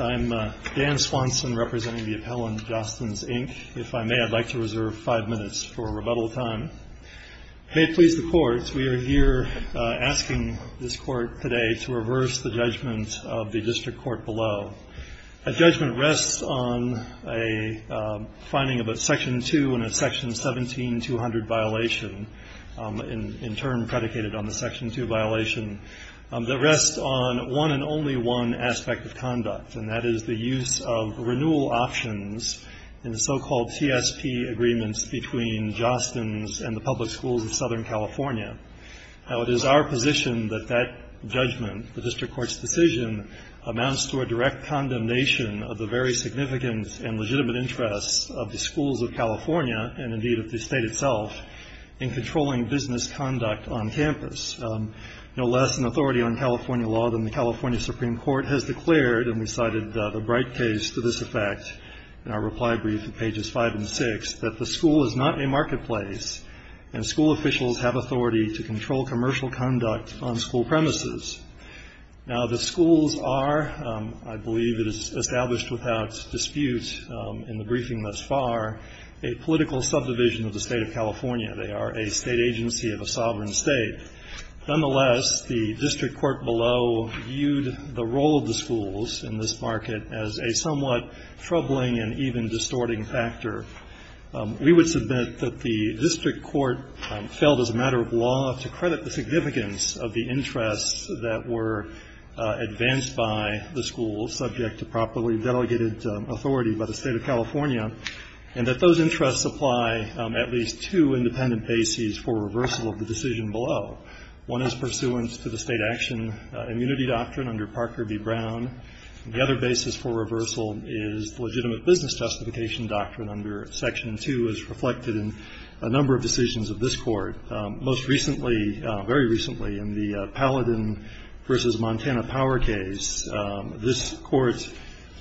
I'm Dan Swanson representing the appellant, Jostens, Inc. If I may, I'd like to reserve five minutes for rebuttal time. May it please the Court, we are here asking this Court today to reverse the judgment of the District Court below. A judgment rests on a finding of a Section 2 and a Section 17-200 violation, in turn predicated on the Section 2 violation, that rests on one and only one aspect of conduct, and that is the use of renewal options in the so-called TSP agreements between Jostens and the public schools of Southern California. Now it is our position that that judgment, the District Court's decision, amounts to a direct condemnation of the very significant and legitimate interests of the schools of Southern California. There is less in authority on California law than the California Supreme Court has declared, and we cited the Bright case to this effect in our reply brief at pages 5 and 6, that the school is not a marketplace and school officials have authority to control commercial conduct on school premises. Now the schools are, I believe it is established without dispute in the briefing thus far, a political subdivision of the State of California. They are a state agency of a sovereign state. Nonetheless, the District Court below viewed the role of the schools in this market as a somewhat troubling and even distorting factor. We would submit that the District Court failed as a matter of law to credit the significance of the interests that were advanced by the schools, subject to properly delegated authority by the State of California, and that those interests apply at least to independent bases for reversal of the decision below. One is pursuance to the state action immunity doctrine under Parker v. Brown, and the other basis for reversal is the legitimate business justification doctrine under Section 2, as reflected in a number of decisions of this Court. Most recently, very recently, in the Paladin v. Montana Power case, this Court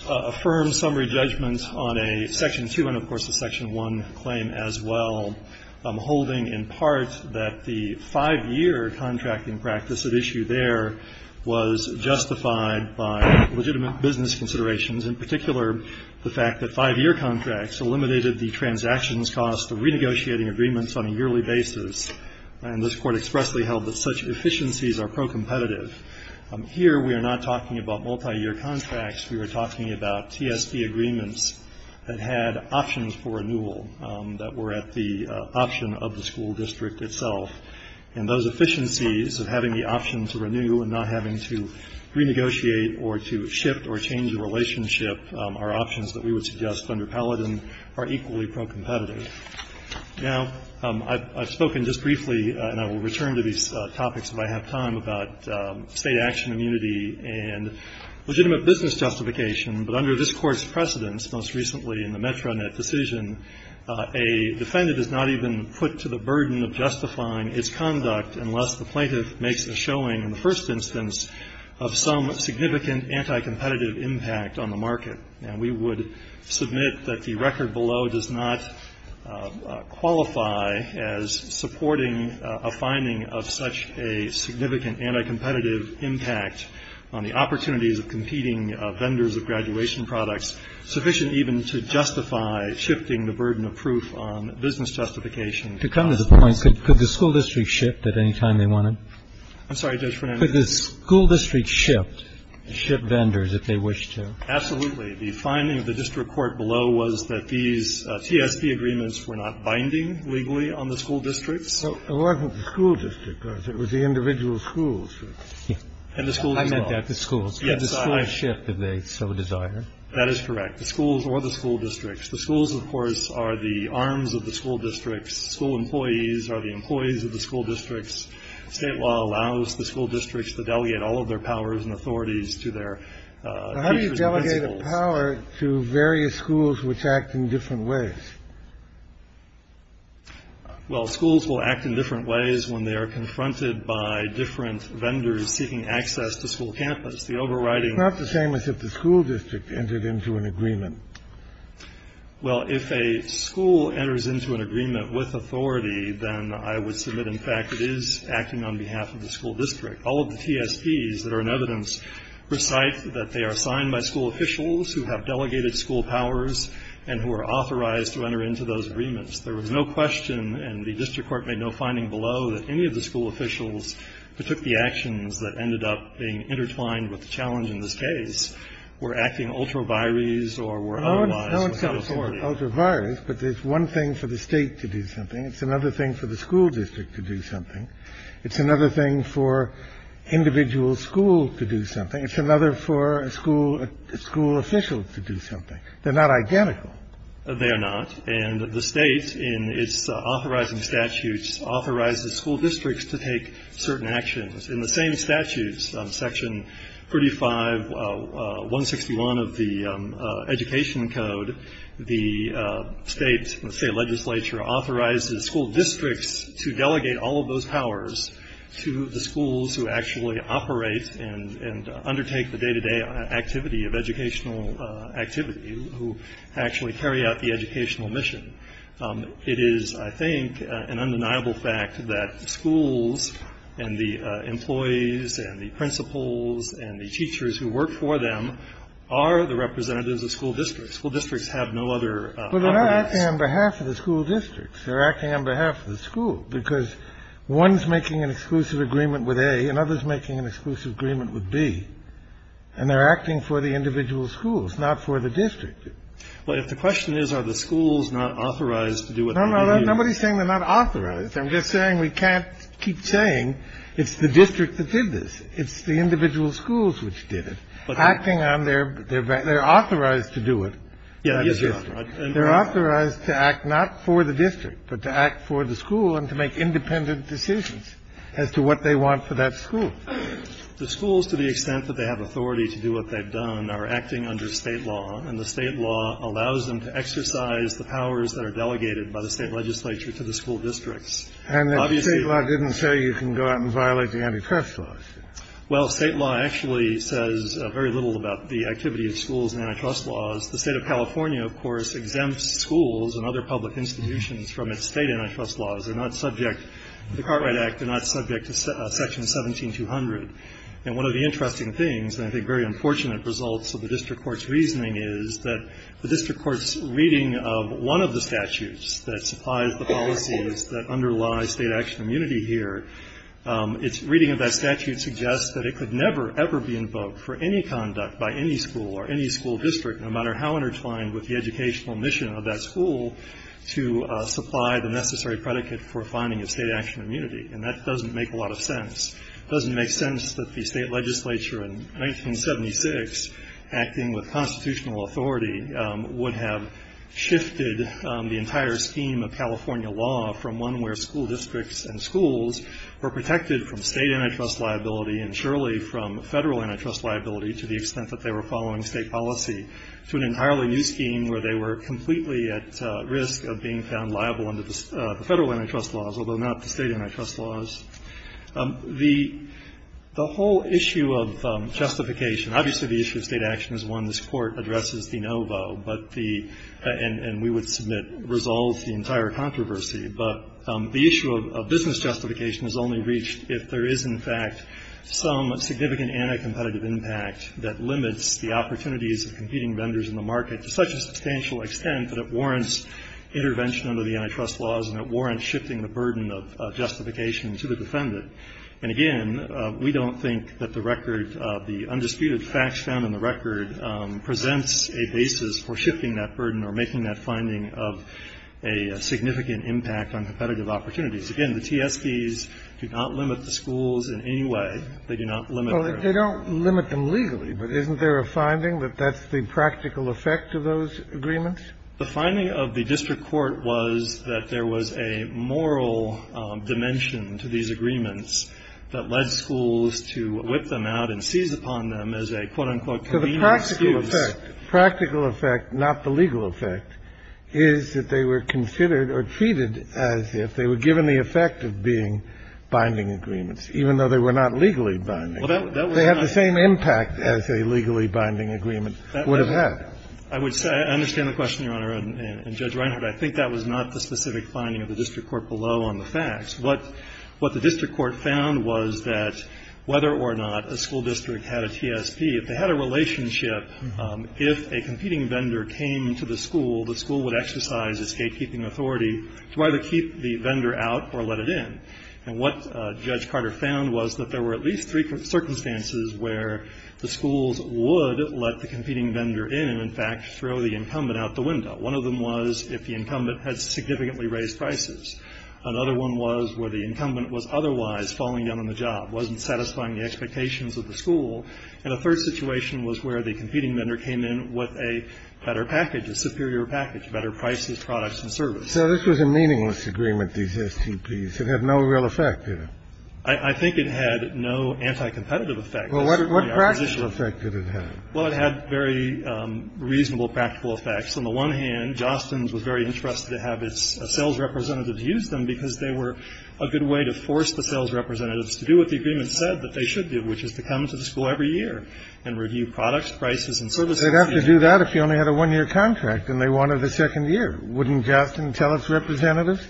affirmed summary judgment on a Section 2 and, of course, a Section 1 claim as well, holding in part that the 5-year contracting practice at issue there was justified by legitimate business considerations, in particular, the fact that 5-year contracts eliminated the transactions cost of renegotiating agreements on a yearly basis. And this Court expressly held that such efficiencies are pro-competitive. Here we are not talking about multiyear contracts. We are talking about TSP agreements that had options for renewal that were at the option of the school district itself. And those efficiencies of having the option to renew and not having to renegotiate or to shift or change the relationship are options that we would suggest under Paladin are equally pro-competitive. Now, I've spoken just briefly, and I will return to these topics if I have time, about state action immunity and legitimate business justification. But under this Court's precedence, most recently in the Metronet decision, a defendant is not even put to the burden of justifying its conduct unless the plaintiff makes a showing, in the first instance, of some significant anti-competitive impact on the market. And we would submit that the record below does not qualify as supporting a finding of such a significant anti-competitive impact on the opportunities of competing vendors of graduation products, sufficient even to justify shifting the burden of proof on business justification. To come to the point, could the school district shift at any time they wanted? I'm sorry, Judge Fernandes. Could the school district shift, shift vendors if they wished to? Absolutely. The finding of the district court below was that these TSP agreements were not binding legally on the school districts. It wasn't the school district, though. It was the individual schools. And the schools as well. I meant that, the schools. Could the schools shift if they so desire? That is correct. The schools or the school districts. The schools, of course, are the arms of the school districts. School employees are the employees of the school districts. State law allows the school districts to delegate all of their powers and authorities to their teachers and principals. How do you delegate a power to various schools which act in different ways? Well, schools will act in different ways when they are confronted by different vendors seeking access to school campus. The overriding... It's not the same as if the school district entered into an agreement. Well, if a school enters into an agreement with authority, then I would submit, in fact, it is acting on behalf of the school district. All of the TSPs that are in evidence recite that they are signed by school officials who have delegated school powers and who are authorized to enter into those agreements. There was no question, and the district court made no finding below, that any of the school officials who took the actions that ended up being intertwined with the challenge in this case were acting ultra vires or were otherwise without authority. No, it's not ultra vires, but it's one thing for the state to do something. It's another thing for the school district to do something. It's another thing for individual schools to do something. It's another for a school official to do something. They're not identical. They are not. And the state, in its authorizing statutes, authorizes school districts to take certain actions. In the same statutes, Section 35, 161 of the Education Code, the state, let's say, legislature authorizes school districts to delegate all of those powers to the schools who actually operate and undertake the day-to-day activity of educational activity, who actually carry out the educational mission. It is, I think, an undeniable fact that the schools and the employees and the principals and the teachers who work for them are the representatives of school districts. School districts have no other powers. But they're not acting on behalf of the school districts. They're acting on behalf of the school, because one's making an exclusive agreement with A and another's making an exclusive agreement with B, and they're acting for the individual schools, not for the district. But if the question is, are the schools not authorized to do what they do? Nobody's saying they're not authorized. I'm just saying we can't keep saying it's the district that did this. It's the individual schools which did it, acting on their behalf. They're authorized to do it. Yeah, I guess you're right. They're authorized to act not for the district, but to act for the school and to make independent decisions as to what they want for that school. The schools, to the extent that they have authority to do what they've done, are acting under State law, and the State law allows them to exercise the powers that are delegated by the State legislature to the school districts. Obviously the State law didn't say you can go out and violate the antitrust laws. Well, State law actually says very little about the activity of schools and antitrust laws. The State of California, of course, exempts schools and other public institutions from its State antitrust laws. They're not subject, the Cartwright Act, they're not subject to Section 17200. And one of the interesting things, and I think very unfortunate results of the district court's reasoning, is that the district court's reading of one of the statutes that supplies the policies that underlie State action immunity here, its reading of that statute suggests that it could never, ever be invoked for any conduct by any school or any school district, no matter how intertwined with the educational mission of that school, to supply the necessary predicate for finding a State action immunity. And that doesn't make a lot of sense. It doesn't make sense that the State legislature in 1976, acting with constitutional authority, would have shifted the entire scheme of California law from one where school districts and schools were protected from State antitrust liability and surely from Federal antitrust liability to the extent that they were following State policy, to an entirely new scheme where they were completely at risk of being found liable under the Federal antitrust laws, although not the State antitrust laws. The whole issue of justification, obviously the issue of State action is one this Court addresses de novo, but the, and we would submit resolves the entire controversy, but the issue of business justification is only reached if there is, in fact, some significant anti-competitive impact that limits the opportunities of competing schools in any way that they do not limit their own. Kennedy. Well, they don't limit them legally, but isn't there a finding that that's the practical effect of those agreements? The finding of the district court was that there was a moral dimension to these agreements that led schools to whip them out and seize upon them as a, quote, unquote, convenient excuse. So the practical effect, practical effect, not the legal effect, is that they were considered or treated as if they were given the effect of being binding agreements, even though they were not legally binding. They had the same impact as a legally binding agreement would have had. I would say, I understand the question, Your Honor, and Judge Reinhart, I think that was not the specific finding of the district court below on the facts. What the district court found was that whether or not a school district had a TSP, if they had a relationship, if a competing vendor came to the school, the school would exercise a state keeping authority to either keep the vendor out or let it in. And what Judge Carter found was that there were at least three circumstances where the schools would let the competing vendor in and, in fact, throw the incumbent out the window. One of them was if the incumbent had significantly raised prices. Another one was where the incumbent was otherwise falling down on the job, wasn't satisfying the expectations of the school. And a third situation was where the competing vendor came in with a better package, a superior package, better prices, products and service. So this was a meaningless agreement, these STPs. It had no real effect, did it? I think it had no anti-competitive effect. Well, what practical effect did it have? Well, it had very reasonable practical effects. On the one hand, Jostens was very interested to have its sales representatives use them because they were a good way to force the sales representatives to do what the agreement said that they should do, which is to come to the school every year and review products, prices and services. They'd have to do that if you only had a one-year contract and they wanted a second year. Wouldn't Jostens tell its representatives,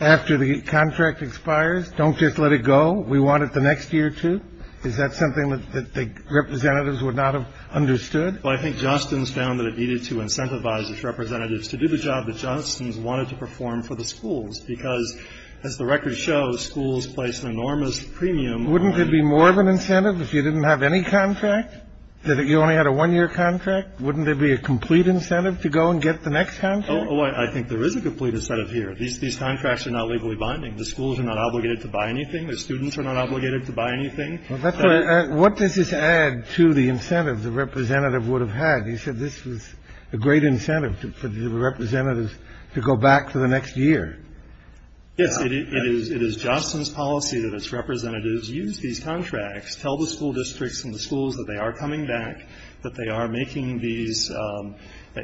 after the contract expires, don't just let it go? We want it the next year, too? Is that something that the representatives would not have understood? Well, I think Jostens found that it needed to incentivize its representatives to do the job that Jostens wanted to perform for the schools because, as the record shows, schools place an enormous premium. Wouldn't it be more of an incentive if you didn't have any contract, that you only had a one-year contract? Wouldn't there be a complete incentive to go and get the next contract? Oh, I think there is a complete incentive here. These contracts are not legally binding. The schools are not obligated to buy anything. The students are not obligated to buy anything. Well, that's why what does this add to the incentives the representative would have had? He said this was a great incentive for the representatives to go back to the next year. Yes, it is Jostens' policy that its representatives use these contracts, tell the school districts and the schools that they are coming back, that they are making these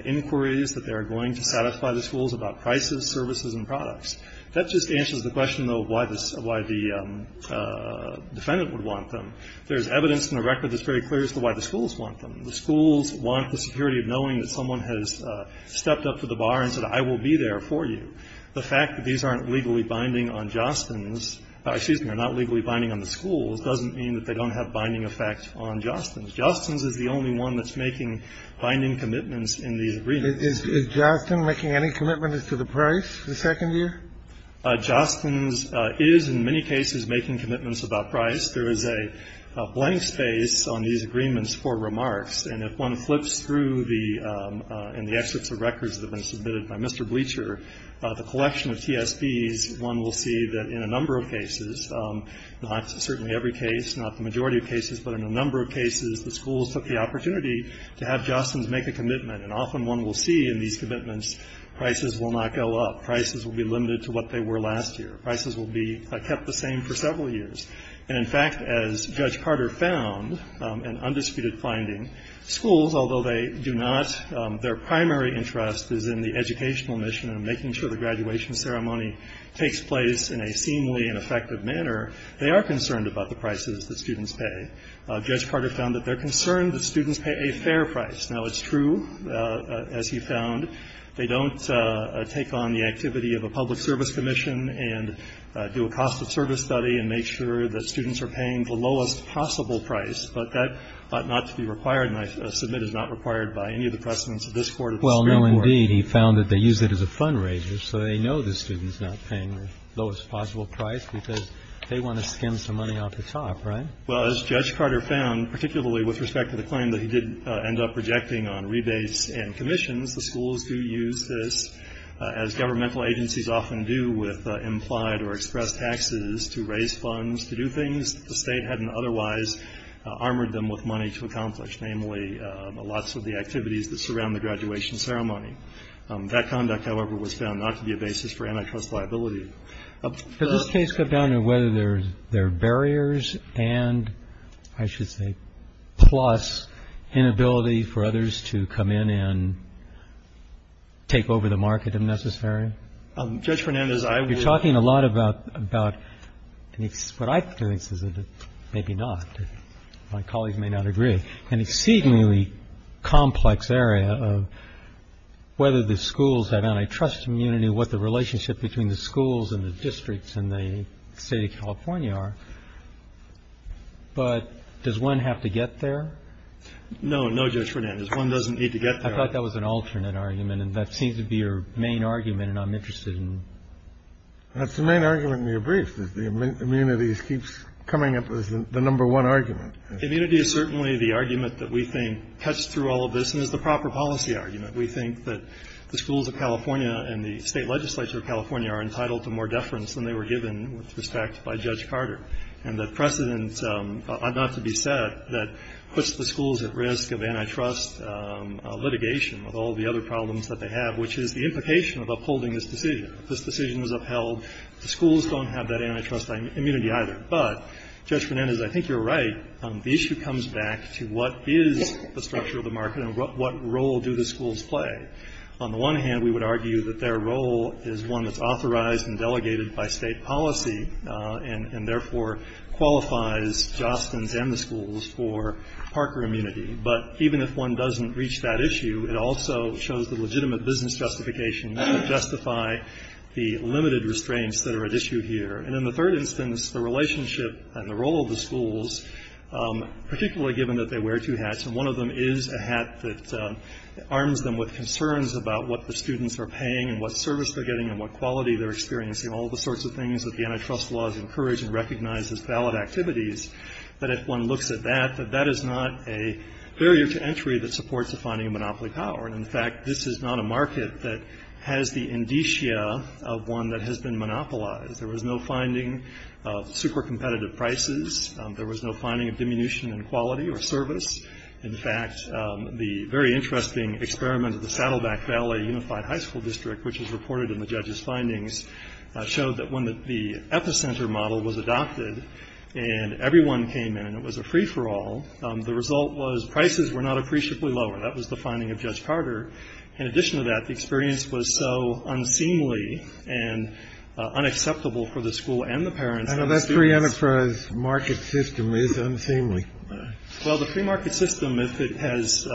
inquiries, that they are going to satisfy the schools about prices, services and products. That just answers the question, though, of why the defendant would want them. There is evidence in the record that's very clear as to why the schools want them. The schools want the security of knowing that someone has stepped up to the bar and said, I will be there for you. The fact that these aren't legally binding on Jostens' or, excuse me, are not legally binding on the schools doesn't mean that they don't have binding effect on Jostens'. Jostens is the only one that's making binding commitments in these agreements. Is Jostens making any commitments to the price the second year? Jostens is in many cases making commitments about price. There is a blank space on these agreements for remarks. And if one flips through the, in the excerpts of records that have been submitted by Mr. Bleacher, the collection of TSBs, one will see that in a number of cases, not certainly every case, not the majority of cases, but in a number of cases, the schools took the opportunity to have Jostens make a commitment. And often one will see in these commitments, prices will not go up. Prices will be limited to what they were last year. Prices will be kept the same for several years. And in fact, as Judge Carter found, an undisputed finding, schools, although they do not, their primary interest is in the educational mission and making sure the graduation ceremony takes place in a seemingly ineffective manner, they are concerned about the prices that students pay. Judge Carter found that they're concerned that students pay a fair price. Now, it's true, as he found. They don't take on the activity of a public service commission and do a cost of service study and make sure that students are paying the lowest possible price. But that ought not to be required. And I submit it's not required by any of the precedents of this Court or the Supreme Court. Roberts. Well, no, indeed. He found that they use it as a fundraiser so they know the student's not paying the lowest possible price because they want to skim some money off the top, right? Well, as Judge Carter found, particularly with respect to the claim that he did end up projecting on rebates and commissions, the schools do use this, as governmental agencies often do, with implied or expressed taxes to raise funds to do things the state hadn't otherwise armored them with money to accomplish, namely, lots of the activities that surround the graduation ceremony. That conduct, however, was found not to be a basis for antitrust liability. Does this case come down to whether there are barriers and, I should say, plus inability for others to come in and take over the market, if necessary? Judge Fernandez, I will — You're talking a lot about — what I've experienced is that — maybe not, my colleagues may not agree — an exceedingly complex area of whether the schools have antitrust immunity, what the relationship between the schools and the districts in the State of California are, but does one have to get there? No. No, Judge Fernandez. One doesn't need to get there. I thought that was an alternate argument, and that seems to be your main argument, and I'm interested in — That's the main argument in your brief, that the immunity keeps coming up as the number one argument. Immunity is certainly the argument that we think cuts through all of this and is the proper policy argument. We think that the schools of California and the State legislature of California are entitled to more deference than they were given with respect by Judge Carter. And the precedent, not to be said, that puts the schools at risk of antitrust litigation with all the other problems that they have, which is the implication of upholding this decision. If this decision is upheld, the schools don't have that antitrust immunity either. But, Judge Fernandez, I think you're right. The issue comes back to what is the structure of the market and what role do the schools play? On the one hand, we would argue that their role is one that's authorized and delegated by State policy and therefore qualifies Jostens and the schools for Parker immunity. But even if one doesn't reach that issue, it also shows the legitimate business justification to justify the limited restraints that are at issue here. And in the third instance, the relationship and the role of the schools, particularly given that they wear two hats, and one of them is a hat that arms them with concerns about what the students are paying and what service they're getting and what quality they're experiencing, all the sorts of things that the antitrust laws encourage and recognize as valid activities, that if one looks at that, that that is not a barrier to entry that supports a finding of monopoly power. And, in fact, this is not a market that has the indicia of one that has been monopolized. There was no finding of super competitive prices. There was no finding of diminution in quality or service. In fact, the very interesting experiment at the Saddleback Valley Unified High School District, which is reported in the judge's findings, showed that when the epicenter model was adopted and everyone came in and it was a free-for-all, the result was prices were not appreciably lower. That was the finding of Judge Carter. In addition to that, the experience was so unseemly and unacceptable for the school and the parents and the students. The enterprise market system is unseemly. Well, the free market system, if it has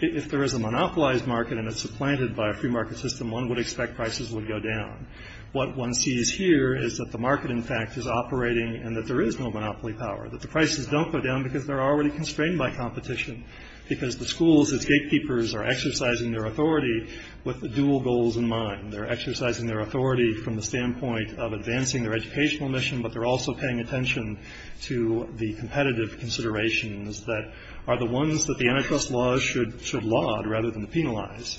if there is a monopolized market and it's supplanted by a free market system, one would expect prices would go down. What one sees here is that the market, in fact, is operating and that there is no monopoly power, that the prices don't go down because they're already constrained by competition, because the schools as gatekeepers are exercising their authority with the dual goals in mind. They're exercising their authority from the standpoint of advancing their educational mission, but they're also paying attention to the competitive considerations that are the ones that the antitrust laws should should laud rather than penalize.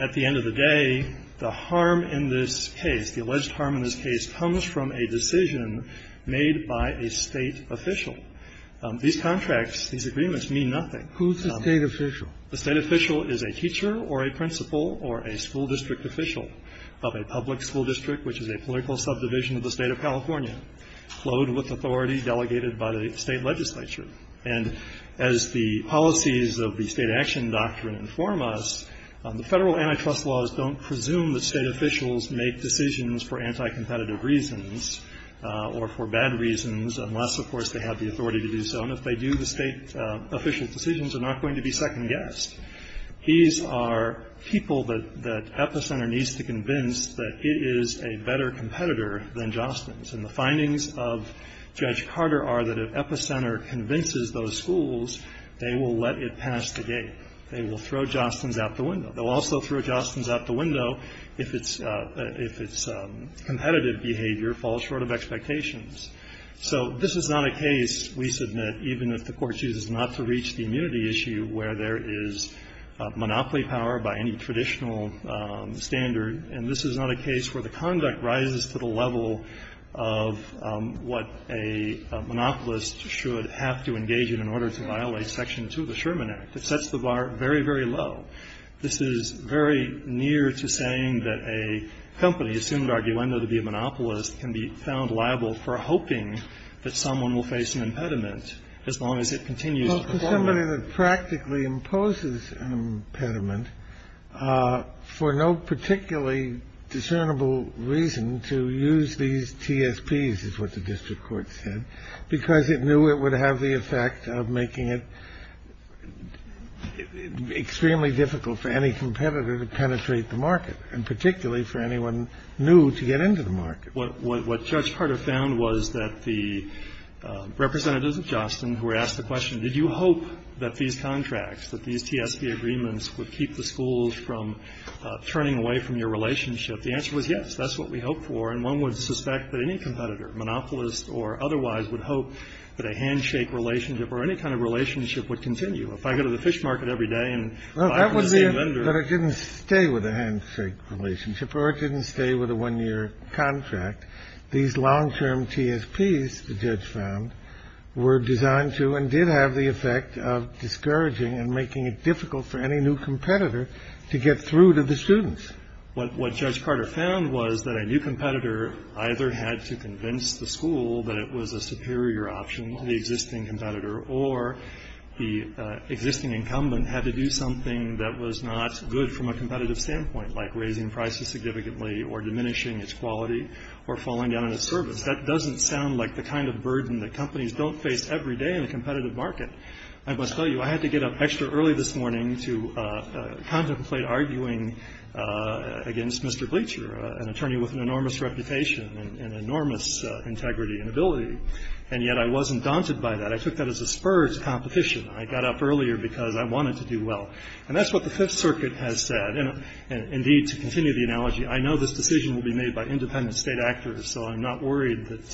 At the end of the day, the harm in this case, the alleged harm in this case, comes from a decision made by a State official. These contracts, these agreements, mean nothing. Who's the State official? The State official is a teacher or a principal or a school district official of a public district, which is a political subdivision of the state of California, flowed with authority delegated by the state legislature. And as the policies of the state action doctrine inform us, the federal antitrust laws don't presume that state officials make decisions for anti-competitive reasons or for bad reasons, unless, of course, they have the authority to do so. And if they do, the state official decisions are not going to be second guessed. These are people that Epicenter needs to convince that it is a better competitor than Jostens. And the findings of Judge Carter are that if Epicenter convinces those schools, they will let it pass the gate. They will throw Jostens out the window. They'll also throw Jostens out the window if its competitive behavior falls short of expectations. So this is not a case, we submit, even if the court chooses not to reach the immunity issue where there is monopoly power by any traditional standard, and this is not a case where the conduct rises to the level of what a monopolist should have to engage in in order to violate Section 2 of the Sherman Act. It sets the bar very, very low. This is very near to saying that a company, assumed arguendo to be a monopolist, can be found liable for hoping that someone will face an impediment as long as it continues to perform well. And it practically imposes an impediment for no particularly discernible reason to use these TSPs, is what the district court said, because it knew it would have the effect of making it extremely difficult for any competitor to penetrate the market, and particularly for anyone new to get into the market. What Judge Carter found was that the representatives of Jostens who were asked the question, that these contracts, that these TSP agreements would keep the schools from turning away from your relationship, the answer was yes. That's what we hope for. And one would suspect that any competitor, monopolist or otherwise, would hope that a handshake relationship or any kind of relationship would continue. If I go to the fish market every day and buy from the same vendor. But it didn't stay with a handshake relationship, or it didn't stay with a one-year contract. These long-term TSPs, the judge found, were designed to and did have the effect of discouraging and making it difficult for any new competitor to get through to the students. What Judge Carter found was that a new competitor either had to convince the school that it was a superior option to the existing competitor, or the existing incumbent had to do something that was not good from a competitive standpoint, like raising prices significantly or diminishing its quality or falling down in its service. That doesn't sound like the kind of burden that companies don't face every day in a competitive market. I must tell you, I had to get up extra early this morning to contemplate arguing against Mr. Bleacher, an attorney with an enormous reputation and enormous integrity and ability, and yet I wasn't daunted by that. I took that as a spur to competition. I got up earlier because I wanted to do well. And that's what the Fifth Circuit has said. And, indeed, to continue the analogy, I know this decision will be made by independent State actors, so I'm not worried that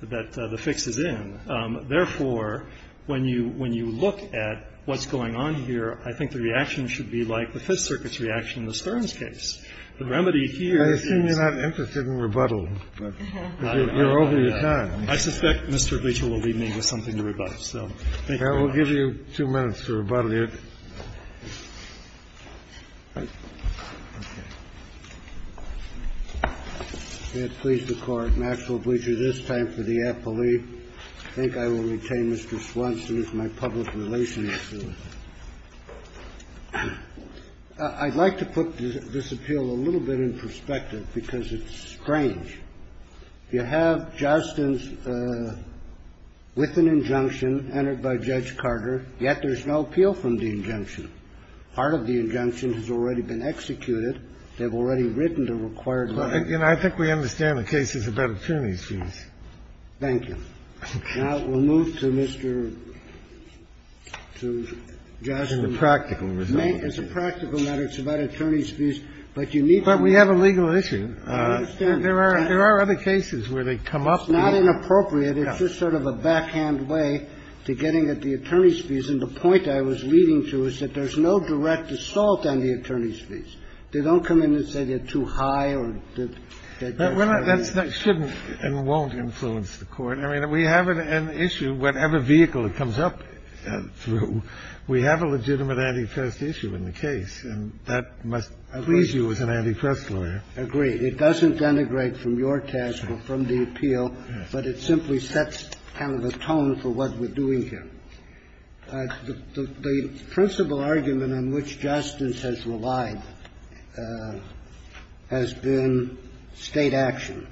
the fix is in. Therefore, when you look at what's going on here, I think the reaction should be like the Fifth Circuit's reaction in the Stearns case. The remedy here is the same. I assume you're not interested in rebuttal, but you're over your time. I suspect Mr. Bleacher will leave me with something to rebut. So thank you very much. I will give you two minutes for rebuttal here. I can't please the Court. Maxwell Bleacher, this time for the appellee. I think I will retain Mr. Swanson as my public relations. I'd like to put this appeal a little bit in perspective because it's strange. You have Jostin's with an injunction entered by Judge Carter, yet there's no appeal from the injunction. Part of the injunction has already been executed. They've already written the required letter. And I think we understand the case is about attorney's fees. Thank you. Now, we'll move to Mr. Jostin. It's a practical matter. It's a practical matter. It's about attorney's fees. But you need to understand. But we have a legal issue. I understand. There are other cases where they come up. It's not inappropriate. It's just sort of a backhand way to getting at the attorney's fees. And the point I was leading to is that there's no direct assault on the attorney's fees. They don't come in and say they're too high or that they're too high. That shouldn't and won't influence the Court. I mean, we have an issue, whatever vehicle it comes up through, we have a legitimate antifest issue in the case. And that must please you as an antifest lawyer. Agreed. It doesn't denigrate from your task or from the appeal, but it simply sets kind of a tone for what we're doing here. The principal argument on which Jostin has relied has been State action.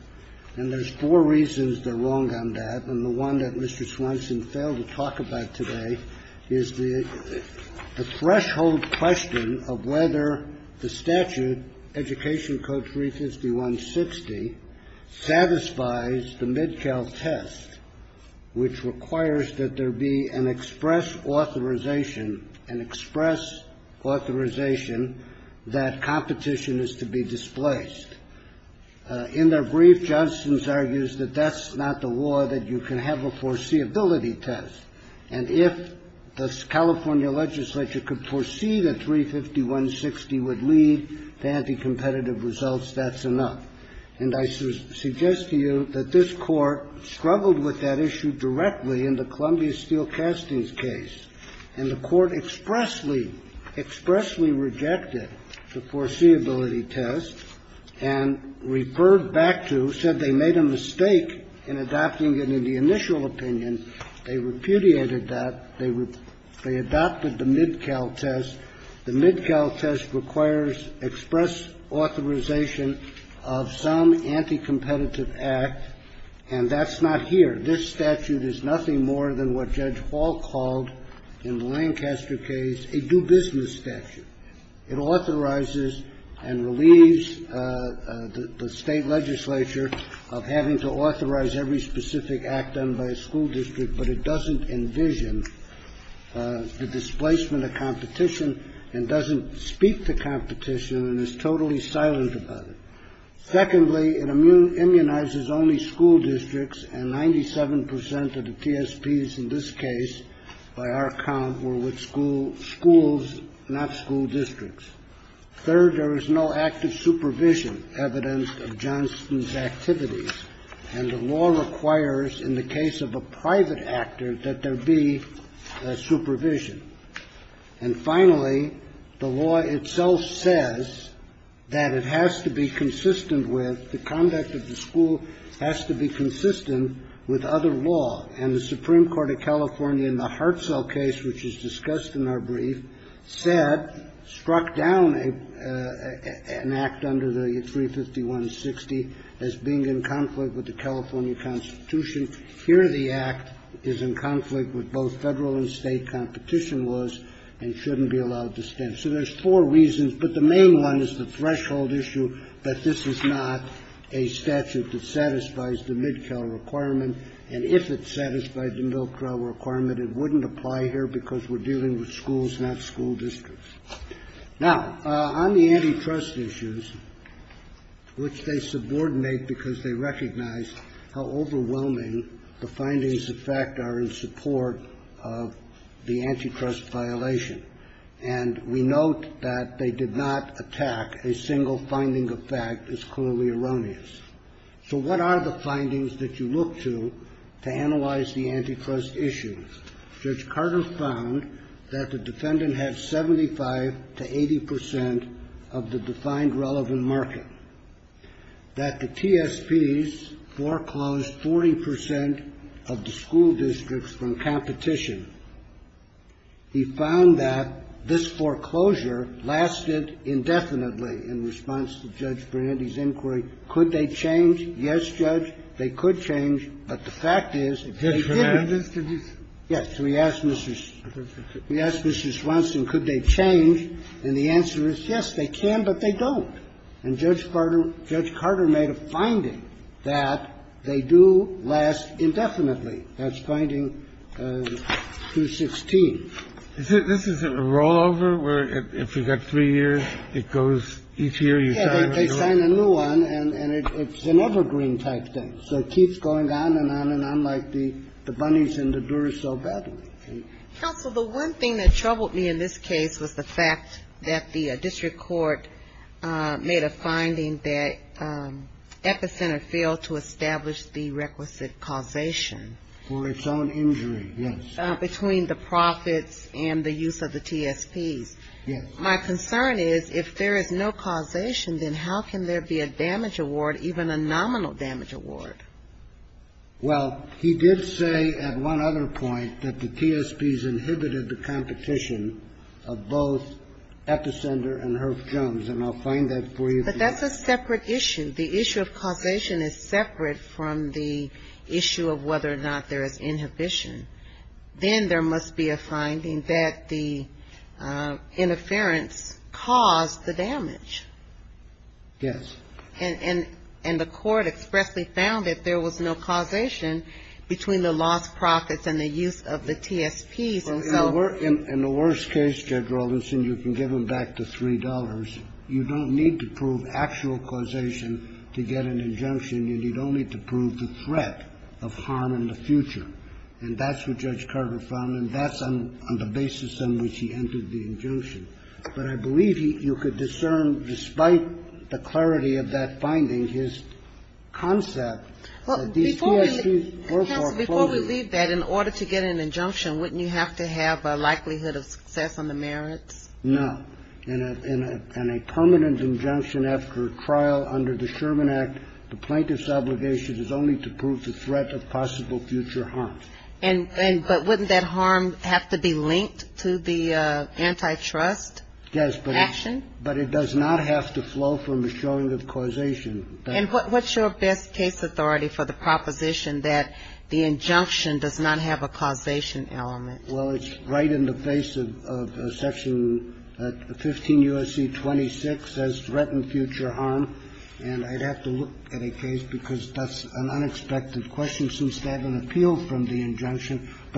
And there's four reasons they're wrong on that. And the one that Mr. Swanson failed to talk about today is the threshold question of whether the statute, Education Code 35160, satisfies the Mid-Cal test, which requires that there be an express authorization, an express authorization, that competition is to be displaced. In their brief, Jostin argues that that's not the law, that you can have a foreseeability test. And if the California legislature could foresee that 35160 would lead to anti-competitive results, that's enough. And I suggest to you that this Court struggled with that issue directly in the Columbia Steel Castings case. And the Court expressly, expressly rejected the foreseeability test and referred back to, said they made a mistake in adopting it in the initial opinion. They repudiated that. They adopted the Mid-Cal test. The Mid-Cal test requires express authorization of some anti-competitive act, and that's not here. This statute is nothing more than what Judge Hall called, in the Lancaster case, a do-business statute. It authorizes and relieves the State legislature of having to authorize every specific act done by a school district, but it doesn't envision the displacement of competition and doesn't speak to competition and is totally silent about it. Secondly, it immunizes only school districts, and 97% of the TSPs in this case, by our count, were with schools, not school districts. Third, there is no active supervision, evidence of Jostin's activities. And the law requires, in the case of a private actor, that there be supervision. And finally, the law itself says that it has to be consistent with the conduct of the school, has to be consistent with other law. And the Supreme Court of California in the Hartzell case, which is discussed in our brief, said, struck down an act under the 351.60 as being in conflict with the California Constitution. Here, the act is in conflict with both Federal and State competition laws and shouldn't be allowed to stand. So there's four reasons, but the main one is the threshold issue that this is not a statute that satisfies the Mid-Cal requirement. And if it satisfied the Mid-Cal requirement, it wouldn't apply here because we're dealing with schools, not school districts. Now, on the antitrust issues, which they subordinate because they recognize how overwhelming the findings of fact are in support of the antitrust violation, and we note that they did not attack a single finding of fact is clearly erroneous. So what are the findings that you look to to analyze the antitrust issues? Judge Carter found that the defendant had 75 to 80 percent of the defined relevant market, that the TSPs foreclosed 40 percent of the school districts from competition. He found that this foreclosure lasted indefinitely in response to Judge Brannandy's inquiry. Could they change? Yes, Judge, they could change, but the fact is, if they didn't they wouldn't Yes. We asked Mr. Swanson, could they change, and the answer is, yes, they can, but they don't. And Judge Carter made a finding that they do last indefinitely. That's finding 216. This is a rollover where if you've got three years, it goes each year you sign a new one. Yes, they sign a new one, and it's an evergreen type thing. So it keeps going on and on and on like the bunnies in the door so badly. Counsel, the one thing that troubled me in this case was the fact that the district court made a finding that Epicenter failed to establish the requisite causation. For its own injury, yes. Between the profits and the use of the TSPs. Yes. My concern is, if there is no causation, then how can there be a damage award, even a nominal damage award? Well, he did say at one other point that the TSPs inhibited the competition of both Epicenter and Herff Jones, and I'll find that for you. But that's a separate issue. The issue of causation is separate from the issue of whether or not there is inhibition. Then there must be a finding that the interference caused the damage. Yes. And the court expressly found that there was no causation between the lost profits and the use of the TSPs. And so we're in the worst case, Judge Robinson, you can give them back the $3. You don't need to prove actual causation to get an injunction. You need only to prove the threat of harm in the future. And that's what Judge Carter found, and that's on the basis on which he entered the injunction. But I believe you could discern, despite the clarity of that finding, his concept that these TSPs were for clothing. Counsel, before we leave that, in order to get an injunction, wouldn't you have to have a likelihood of success on the merits? No. In a permanent injunction after trial under the Sherman Act, the plaintiff's obligation is only to prove the threat of possible future harm. And but wouldn't that harm have to be linked to the antitrust action? Yes, but it does not have to flow from the showing of causation. And what's your best case authority for the proposition that the injunction does not have a causation element? Well, it's right in the face of Section 15 U.S.C. 26, says threatened future harm, and I'd have to look at a case because that's an unexpected question to me.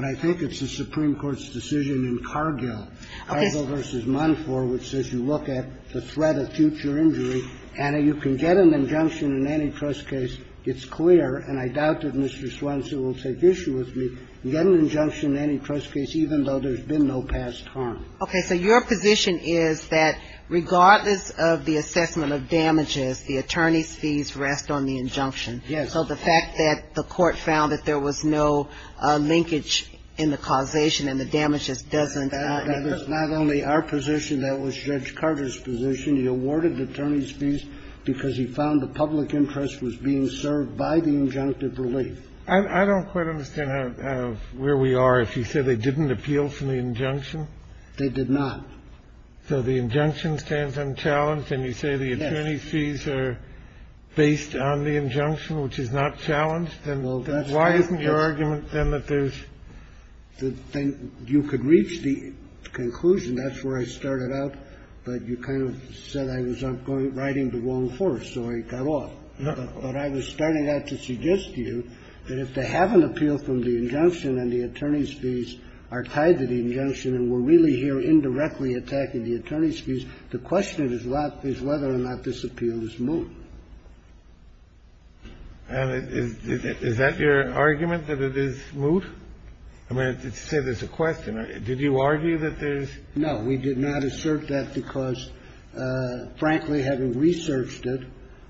I think it's a Supreme Court's decision in Cargill, Cargill v. Monfort, which says you look at the threat of future injury, and you can get an injunction in an antitrust case. It's clear, and I doubt that Mr. Swenson will take issue with me, get an injunction in an antitrust case even though there's been no past harm. Okay. So your position is that regardless of the assessment of damages, the attorney's fees rest on the injunction. Yes. And so the fact that the Court found that there was no linkage in the causation and the damages doesn't impose. That is not only our position. That was Judge Carter's position. He awarded the attorney's fees because he found the public interest was being served by the injunctive relief. I don't quite understand how we are if you say they didn't appeal from the injunction. They did not. So the injunction stands unchallenged, and you say the attorney's fees are based on the injunction, which is not challenged? Then why isn't your argument then that there's the thing you could reach the conclusion. That's where I started out. But you kind of said I was writing the wrong horse, so I got off. But I was starting out to suggest to you that if they have an appeal from the injunction and the attorney's fees are tied to the injunction and we're really here indirectly attacking the attorney's fees, the question is whether or not this appeal is moot. And is that your argument, that it is moot? I mean, to say there's a question. Did you argue that there's no. We did not assert that because, frankly, having researched it,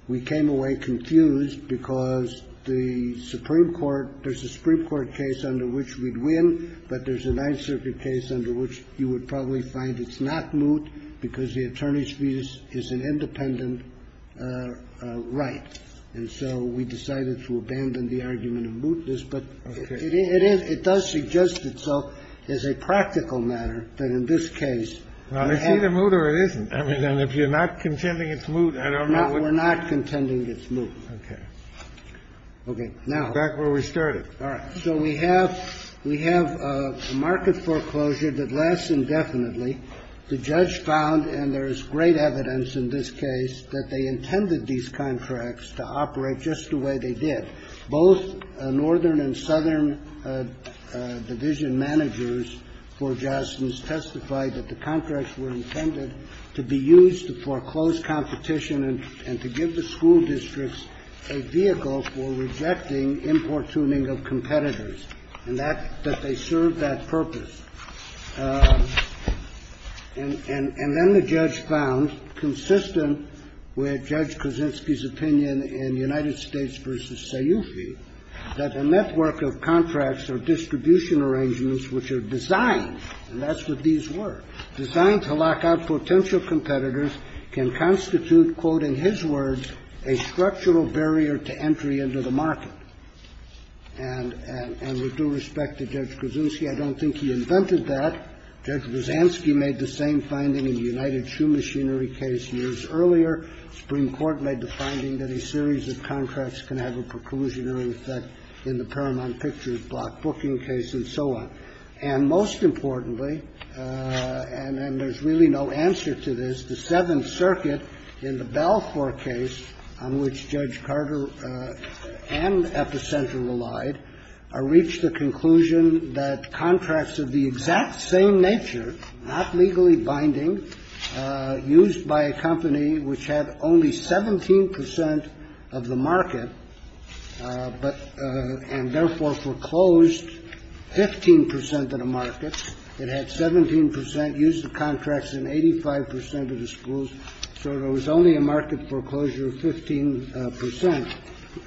we came away confused because the Supreme Court, there's a Supreme Court case under which we'd win, but there's a Ninth Circuit case under which you would probably find it's not moot because the attorney's fees is an independent right. And so we decided to abandon the argument of mootness, but it is – it does suggest itself as a practical matter that in this case. Well, it's either moot or it isn't. I mean, if you're not contending it's moot, I don't know what. No, we're not contending it's moot. Okay. Back where we started. All right. So we have a market foreclosure that lasts indefinitely. The judge found, and there is great evidence in this case, that they intended these contracts to operate just the way they did. Both northern and southern division managers for Jostens testified that the contracts were intended to be used for close competition and to give the school districts a vehicle for rejecting importuning of competitors, and that they served that purpose. And then the judge found, consistent with Judge Kuczynski's opinion in United States v. Sayoufi, that a network of contracts or distribution arrangements which are designed, and that's what these were, designed to lock out potential competitors can constitute, quote, in his words, a structural barrier to entry into the market. And with due respect to Judge Kuczynski, I don't think he invented that. Judge Brzezanski made the same finding in the United Shoe Machinery case years earlier. The Supreme Court made the finding that a series of contracts can have a preclusion or effect in the Paramount Pictures block booking case and so on. And most importantly, and there's really no answer to this, the Seventh Circuit in the Balfour case, on which Judge Carter and Epicenter relied, reached the conclusion that contracts of the exact same nature, not legally binding, used by a company which had only 17 percent of the market, but and therefore foreclosed 15 percent of the market, it had 17 percent, used the contracts in 85 percent of the schools, so there was only a market foreclosure of 15 percent.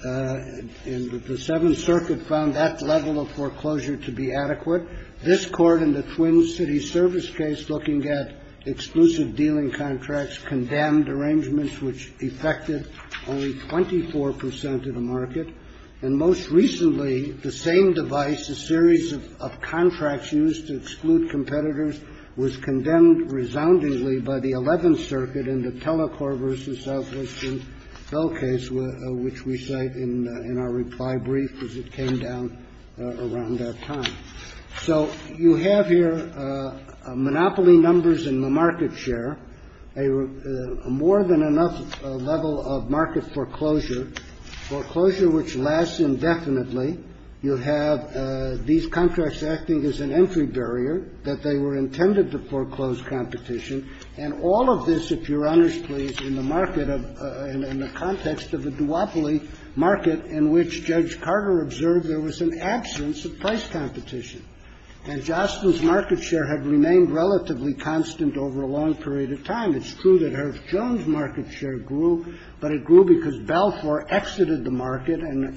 And the Seventh Circuit found that level of foreclosure to be adequate. This Court in the Twin Cities Service case, looking at exclusive dealing contracts, condemned arrangements which effected only 24 percent of the market. And most recently, the same device, a series of contracts used to exclude competitors, was condemned resoundingly by the Eleventh Circuit in the Telecorp versus Southwestern Bell case, which we cite in our reply brief as it came down around that time. So you have here monopoly numbers in the market share, a more than enough level of market foreclosure, foreclosure which lasts indefinitely. You have these contracts acting as an entry barrier that they were intended to foreclose competition. And all of this, if you're honest, please, in the market of, in the context of a duopoly market in which Judge Carter observed there was an absence of price competition. And Jostin's market share had remained relatively constant over a long period of time. It's true that Herff Jones' market share grew, but it grew because Balfour exited the market and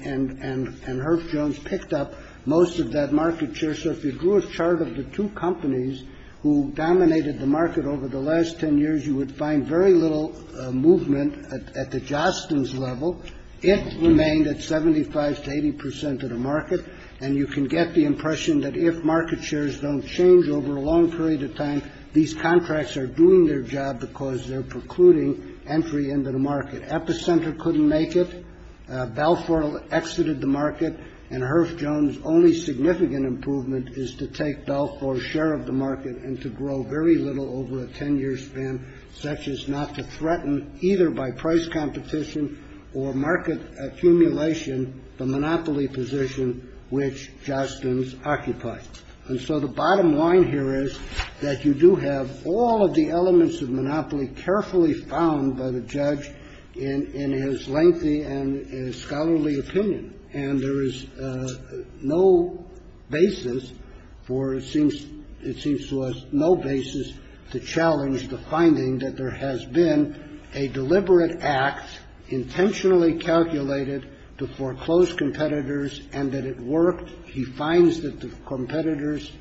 Herff Jones picked up most of that market share. So if you drew a chart of the two companies who dominated the market over the last 10 years, you would find very little movement at the Jostin's level. It remained at 75 to 80 percent of the market. And you can get the impression that if market shares don't change over a long period of time, these contracts are doing their job because they're precluding entry into the market. Epicenter couldn't make it. Balfour exited the market. And Herff Jones' only significant improvement is to take Balfour's share of the market and to grow very little over a 10 year span, such as not to threaten either by price competition or market accumulation the monopoly position which Jostin's occupied. And so the bottom line here is that you do have all of the elements of monopoly carefully found by the judge in his lengthy and scholarly opinion. And there is no basis for, it seems to us, no basis to challenge the finding that there has been a deliberate act intentionally calculated to foreclose competitors and that it worked. He finds that the competitors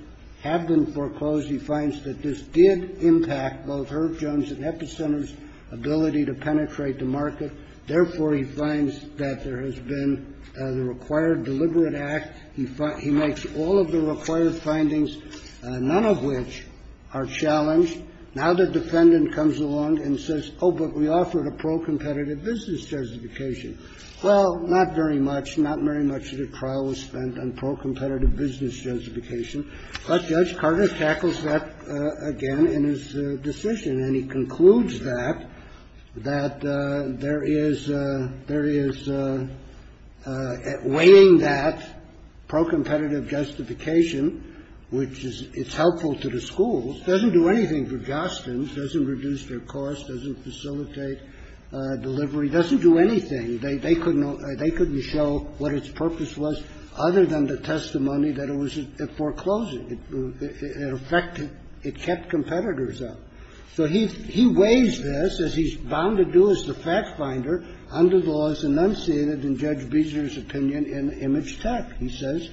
have been foreclosed. He finds that this did impact both Herff Jones and Epicenter's ability to penetrate the market. Therefore, he finds that there has been the required deliberate act. He makes all of the required findings, none of which are challenged. Now the defendant comes along and says, oh, but we offered a pro-competitive business justification. Well, not very much. Not very much of the trial was spent on pro-competitive business justification. But Judge Carter tackles that again in his decision. And he concludes that, that there is weighing that pro-competitive justification, which is helpful to the schools, doesn't do anything for Jostin's, doesn't reduce their cost, doesn't facilitate delivery, doesn't do anything. They couldn't show what its purpose was other than the testimony that it was a foreclosure. In effect, it kept competitors out. So he weighs this, as he's bound to do as the fact-finder, under the laws enunciated in Judge Beazer's opinion in Image Tech. He says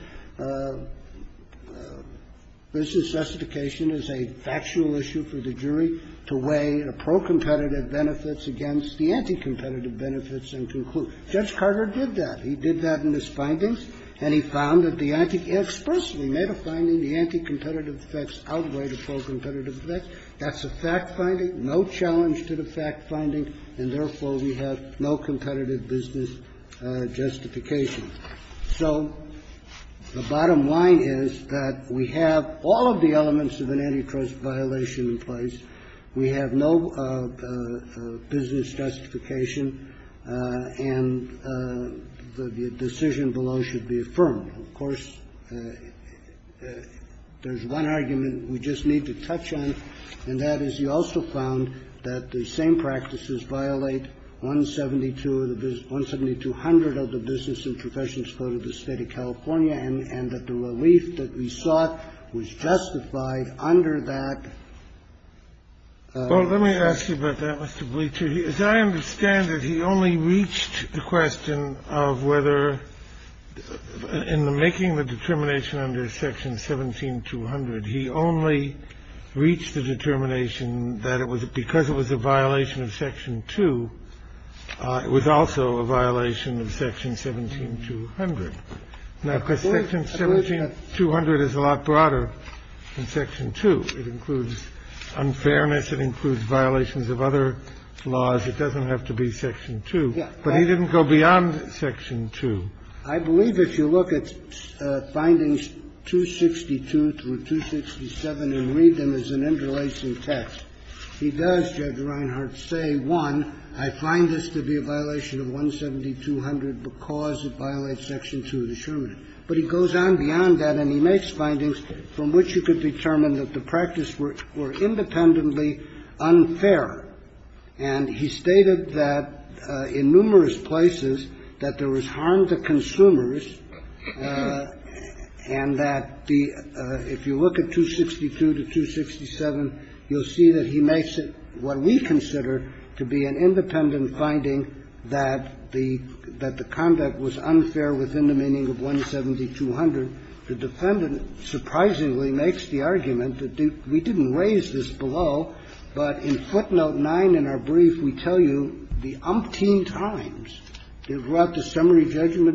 business justification is a factual issue for the jury to weigh the pro-competitive benefits against the anti-competitive benefits and conclude. Judge Carter did that. He did that in his findings. And he found that the anti-competitive – he expressly made a finding the anti-competitive effects outweigh the pro-competitive effects. That's a fact-finding, no challenge to the fact-finding, and therefore we have no competitive business justification. So the bottom line is that we have all of the elements of an antitrust violation in place. We have no business justification, and the decision below should be affirmed. Of course, there's one argument we just need to touch on, and that is he also found that the same practices violate 172 of the – 17200 of the Business and Professionals Code of the State of California, and that the relief that we sought was justified under that. Well, let me ask you about that, Mr. Bleacher. As I understand it, he only reached the question of whether, in the making of the determination under Section 17200, he only reached the determination that it was because it was a violation of Section 2, it was also a violation of Section 17200. Now, because Section 17200 is a lot broader than Section 2. It includes unfairness. It includes violations of other laws. It doesn't have to be Section 2. But he didn't go beyond Section 2. I believe if you look at Findings 262 through 267 and read them as an interlacing text, he does, Judge Reinhart, say, one, I find this to be a violation of 17200 because it violates Section 2 of the Sherman Act. But he goes on beyond that, and he makes findings from which you could determine that the practice were independently unfair. And he stated that in numerous places that there was harm to consumers and that the – if you look at 262 to 267, you'll see that he makes it what we consider to be an unfair violation of Section 2 of the Sherman Act because it violates Section 2 of the Sherman Act. He says that the conduct was unfair within the meaning of 17200. The defendant, surprisingly, makes the argument that we didn't raise this below, but in footnote 9 in our brief, we tell you the umpteen times throughout the summary that we have an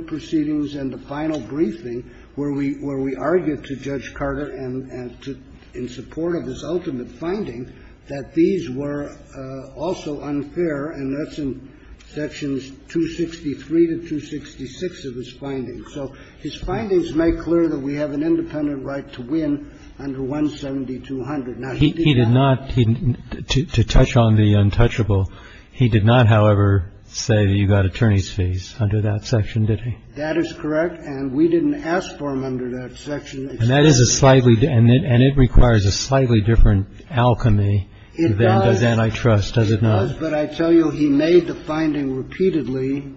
independent right to win under 17200. Now, he did not – He did not – to touch on the untouchable, he did not, however, say that you got attorney's fees under that section, did he? That is correct. And we didn't ask for them under that section. And that is a slightly – and it requires a slightly different alchemy than does antitrust, does it not? It does, but I tell you he made the finding repeatedly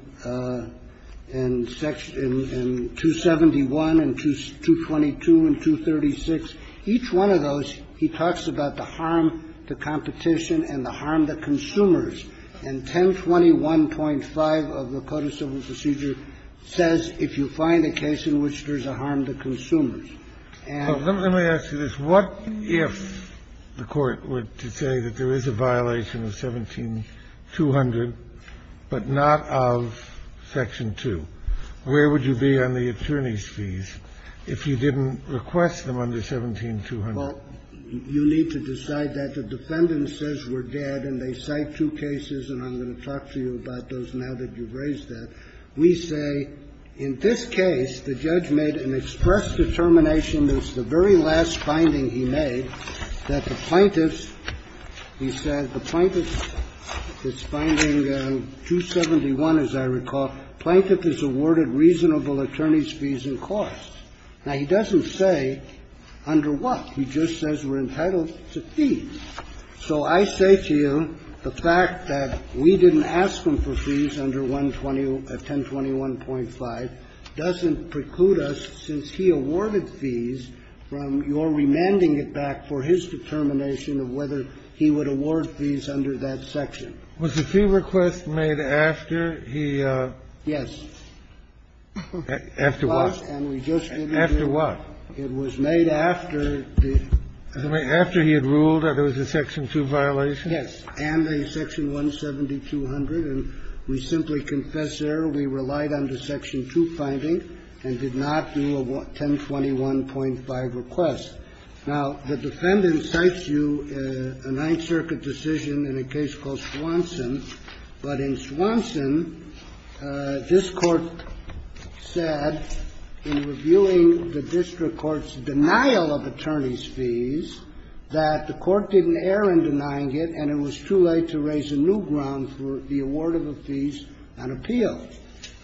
in Section – in 271 and 222 and 236. Each one of those, he talks about the harm to competition and the harm to consumers. And 1021.5 of the Code of Civil Procedure says, if you find a case in which there's a harm to consumers, and – And you're saying that the defendant was dead under 17200, but not of Section 2. Where would you be on the attorney's fees if you didn't request them under 17200? Well, you need to decide that. The defendant says we're dead, and they cite two cases, and I'm going to talk to you about those now that you've raised that. We say in this case, the judge made an express determination, it was the very last finding he made, that the plaintiff's – he said the plaintiff's – his finding in 271, as I recall, plaintiff is awarded reasonable attorney's fees and costs. Now, he doesn't say under what. He just says we're entitled to fees. So I say to you the fact that we didn't ask him for fees under 1021.5 doesn't preclude us, since he awarded fees, from your remanding it back for his determination of whether he would award fees under that section. Was the fee request made after he – Yes. After what? And we just didn't do it. After what? It was made after the – After he had ruled that it was a Section 2 violation? Yes, and a Section 17200. And we simply confess there we relied on the Section 2 finding and did not do a 1021.5 request. Now, the defendant cites you a Ninth Circuit decision in a case called Swanson. But in Swanson, this Court said in reviewing the district court's denial of attorney's fees that the court didn't err in denying it and it was too late to raise a new ground for the award of the fees on appeal.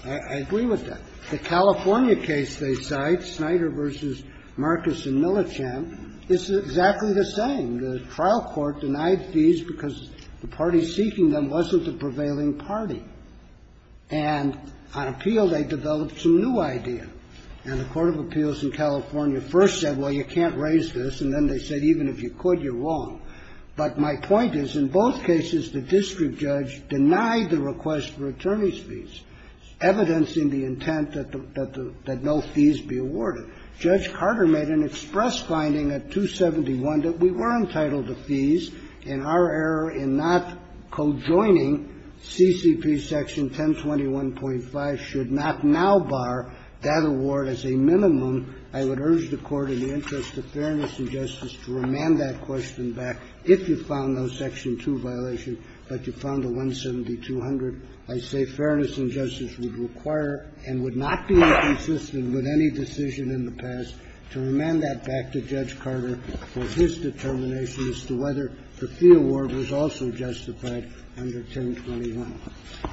I agree with that. The California case they cite, Snyder v. Marcus and Millichamp, is exactly the same. The trial court denied fees because the party seeking them wasn't the prevailing party. And on appeal, they developed some new idea. And the court of appeals in California first said, well, you can't raise this, and then they said even if you could, you're wrong. But my point is, in both cases, the district judge denied the request for attorney's fees, evidencing the intent that the no fees be awarded. Judge Carter made an express finding at 271 that we were entitled to fees, and our error in not co-joining CCP Section 1021.5 should not now bar that award as a minimum. I would urge the Court, in the interest of fairness and justice, to remand that question back, if you found no Section 2 violation, but you found the 170-200. I say fairness and justice would require and would not be inconsistent with any decision in the past to remand that back to Judge Carter for his determination as to whether the fee award was also justified under 1021.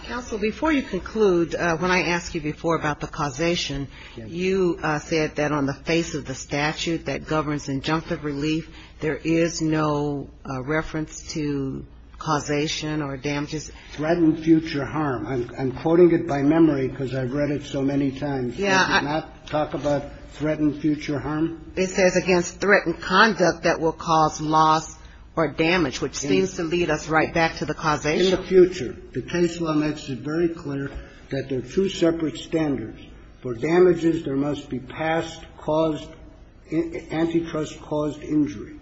Counsel, before you conclude, when I asked you before about the causation, you said that on the face of the statute that governs injunctive relief, there is no reference to causation or damages. Threatened future harm. I'm quoting it by memory because I've read it so many times. Yeah. Does it not talk about threatened future harm? It says against threatened conduct that will cause loss or damage, which seems to lead us right back to the causation. In the future, the case law makes it very clear that there are two separate standards. For damages, there must be past caused antitrust-caused injury.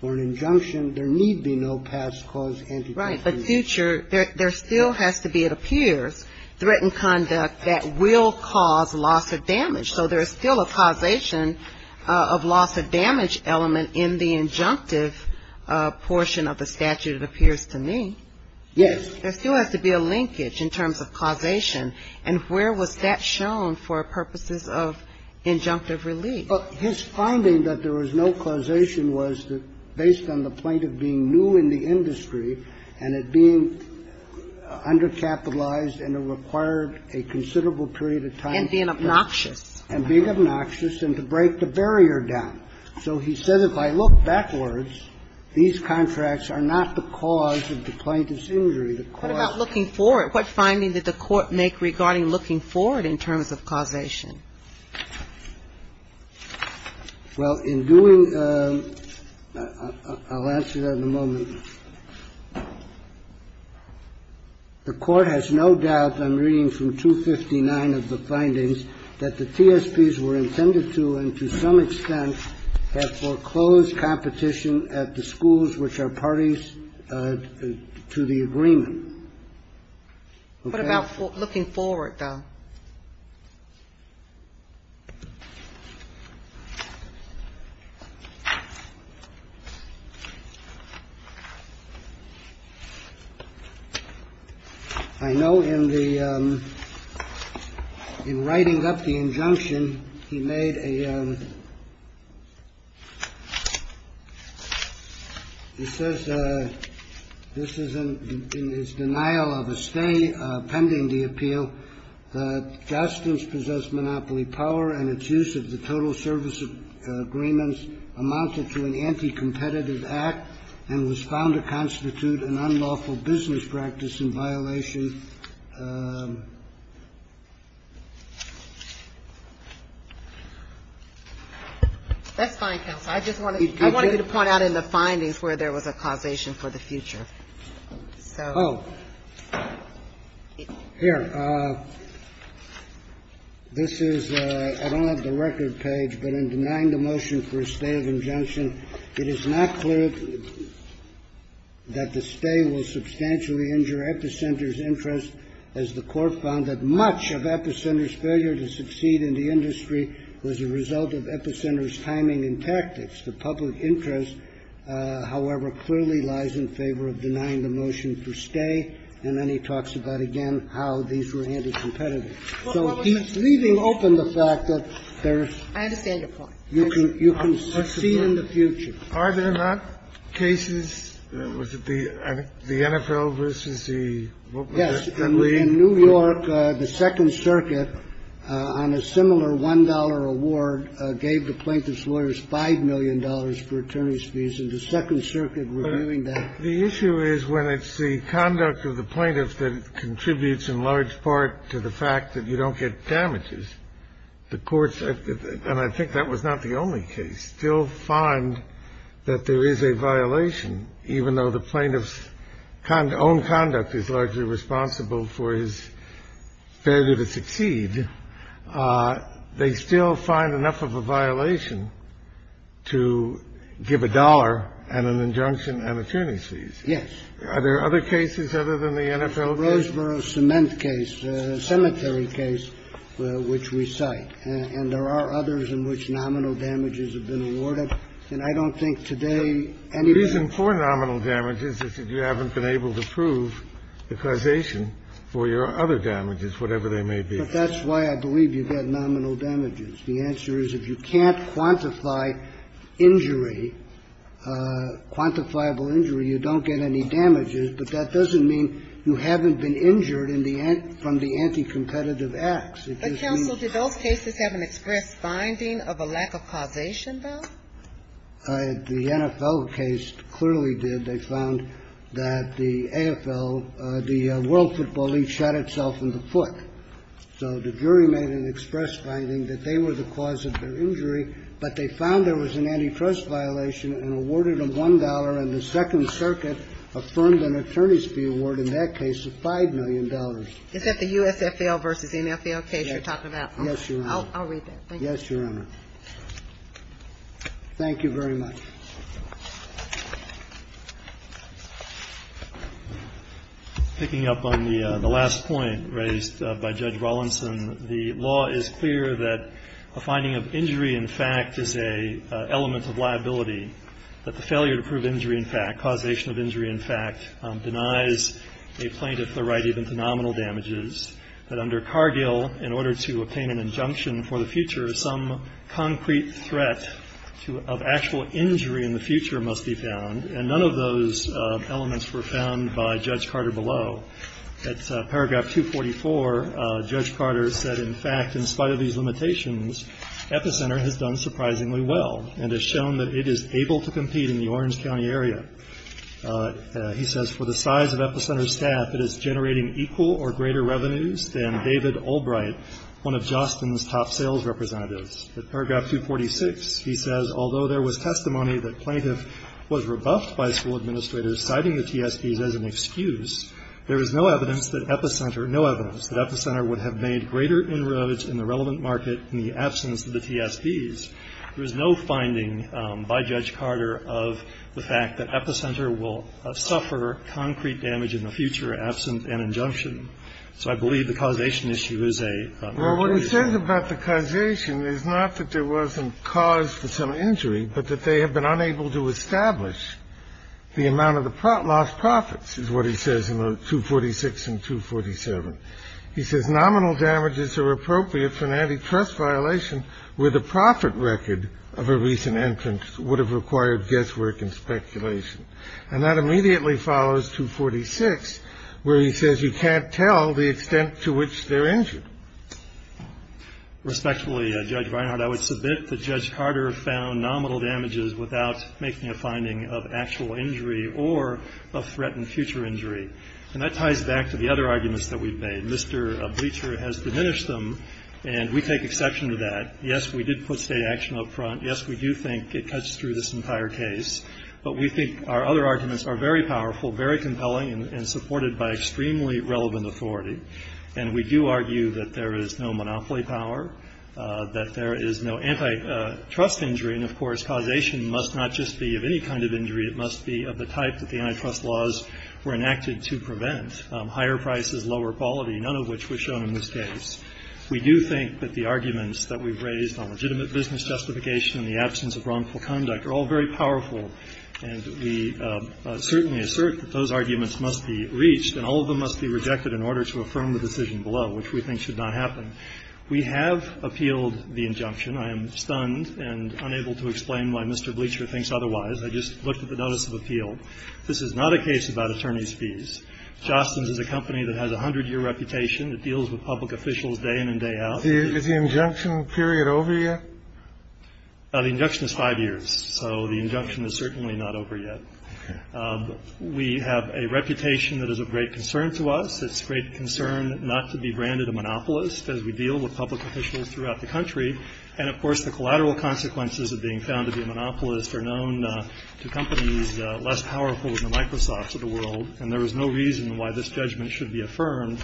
For an injunction, there need be no past caused antitrust-caused injury. Right. But future, there still has to be, it appears, threatened conduct that will cause loss of damage. So there is still a causation of loss of damage element in the injunctive portion of the statute, it appears to me. Yes. There still has to be a linkage in terms of causation. And where was that shown for purposes of injunctive relief? Well, his finding that there was no causation was that based on the point of being new in the industry and it being undercapitalized and it required a considerable period of time. And being obnoxious. And being obnoxious and to break the barrier down. So he said, if I look backwards, these contracts are not the cause of the plaintiff's injury. The cause of the injury. What about looking forward? What finding did the Court make regarding looking forward in terms of causation? Well, in doing the – I'll answer that in a moment. The Court has no doubt, I'm reading from 259 of the findings, that the TSPs were intended to, and to some extent have foreclosed competition at the schools which are parties to the agreement. Okay? What about looking forward, though? I know in the – in writing up the injunction, he made a – he says this is in his denial of a stay pending the appeal, that Jostens possessed monopoly power and its use of the total service agreements amounted to an anti-competitive act and was found to constitute an unlawful business practice in violation. That's fine, counsel. I just wanted you to point out in the findings where there was a causation for the future. Oh, here. This is – I don't have the record page, but in denying the motion for a stay of injunction, it is not clear that the stay will substantially injure Epicenter's interest, as the Court found that much of Epicenter's failure to succeed in the industry was a result of Epicenter's timing and tactics. The public interest, however, clearly lies in favor of denying the motion for stay, and then he talks about again how these were anti-competitive. So he's leaving open the fact that there's – I understand your point. You can – you can succeed in the future. Are there not cases, was it the NFL versus the – Yes. In New York, the Second Circuit, on a similar $1 award, gave the plaintiff's The issue is when it's the conduct of the plaintiff that contributes in large part to the fact that you don't get damages, the courts – and I think that was not the only case – still find that there is a violation, even though the plaintiff's own conduct is largely responsible for his failure to succeed. They still find enough of a violation to give a dollar and an injunction and attorney's fees. Yes. Are there other cases other than the NFL case? The Roseboro Cement case, the cemetery case, which we cite. And there are others in which nominal damages have been awarded, and I don't think today anybody – The reason for nominal damages is that you haven't been able to prove the causation for your other damages, whatever they may be. But that's why I believe you get nominal damages. The answer is if you can't quantify injury, quantifiable injury, you don't get any damages, but that doesn't mean you haven't been injured in the – from the anticompetitive acts. But, counsel, do those cases have an express finding of a lack of causation, though? The NFL case clearly did. They found that the AFL, the World Football League, shot itself in the foot. So the jury made an express finding that they were the cause of the injury, but they found there was an antitrust violation and awarded them $1, and the Second Circuit affirmed an attorney's fee award in that case of $5 million. Is that the USFL versus NFL case you're talking about? Yes, Your Honor. I'll read that. Thank you. Yes, Your Honor. Thank you very much. Picking up on the last point raised by Judge Rawlinson, the law is clear that a finding of injury in fact is an element of liability, that the failure to prove injury in fact, causation of injury in fact, denies a plaintiff the right even to nominal damages, that under Cargill, in order to obtain an injunction for the future, some concrete threat of actual injury in the future must be found, and none of those elements were found by Judge Carter below. At paragraph 244, Judge Carter said, in fact, in spite of these limitations, Epicenter has done surprisingly well, and has shown that it is able to compete in the Orange County area. He says, for the size of Epicenter's staff, it is generating equal or greater revenues than David Albright, one of Jostin's top sales representatives. At paragraph 246, he says, Although there was testimony that plaintiff was rebuffed by school administrators citing the TSBs as an excuse, there is no evidence that Epicenter would have made greater inroads in the relevant market in the absence of the TSBs. There is no finding by Judge Carter of the fact that Epicenter will suffer concrete damage in the future absent an injunction. So I believe the causation issue is a limitation. What he says about the causation is not that there wasn't cause for some injury, but that they have been unable to establish the amount of the lost profits, is what he says in 246 and 247. He says, Nominal damages are appropriate for an antitrust violation where the profit record of a recent entrance would have required guesswork and speculation. And that immediately follows 246, where he says, You can't tell the extent to which they're injured. Respectfully, Judge Reinhardt, I would submit that Judge Carter found nominal damages without making a finding of actual injury or of threatened future injury. And that ties back to the other arguments that we've made. Mr. Bleacher has diminished them, and we take exception to that. Yes, we did put state action up front. Yes, we do think it cuts through this entire case. But we think our other arguments are very powerful, very compelling, and supported by extremely relevant authority. And we do argue that there is no monopoly power, that there is no antitrust injury, and, of course, causation must not just be of any kind of injury. It must be of the type that the antitrust laws were enacted to prevent, higher prices, lower quality, none of which were shown in this case. We do think that the arguments that we've raised on legitimate business justification and the absence of wrongful conduct are all very powerful. And we certainly assert that those arguments must be reached, and all of them must be rejected in order to affirm the decision below, which we think should not happen. We have appealed the injunction. I am stunned and unable to explain why Mr. Bleacher thinks otherwise. I just looked at the notice of appeal. This is not a case about attorney's fees. Jostens is a company that has a hundred-year reputation. It deals with public officials day in and day out. Is the injunction period over yet? The injunction is five years. So the injunction is certainly not over yet. We have a reputation that is of great concern to us. It's of great concern not to be branded a monopolist as we deal with public officials throughout the country. And, of course, the collateral consequences of being found to be a monopolist are known to companies less powerful than Microsoft's of the world. And there is no reason why this judgment should be affirmed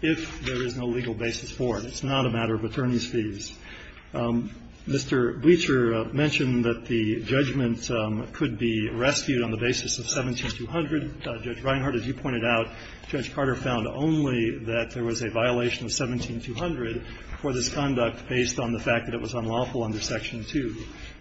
if there is no legal basis for it. It's not a matter of attorney's fees. Mr. Bleacher mentioned that the judgment could be rescued on the basis of 17-200. Judge Reinhart, as you pointed out, Judge Carter found only that there was a violation of 17-200 for this conduct based on the fact that it was unlawful under Section 2.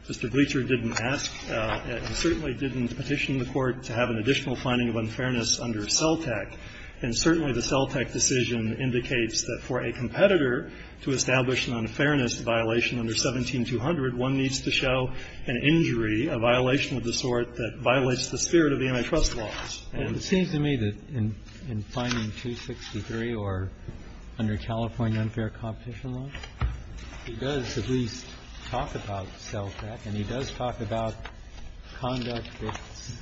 Mr. Bleacher didn't ask and certainly didn't petition the Court to have an additional finding of unfairness under CELTEC. And certainly the CELTEC decision indicates that for a competitor to establish a violation of unfairness, a violation under 17-200, one needs to show an injury, a violation of the sort that violates the spirit of the antitrust laws. And it seems to me that in finding 263 or under California unfair competition laws, he does at least talk about CELTEC and he does talk about conduct that's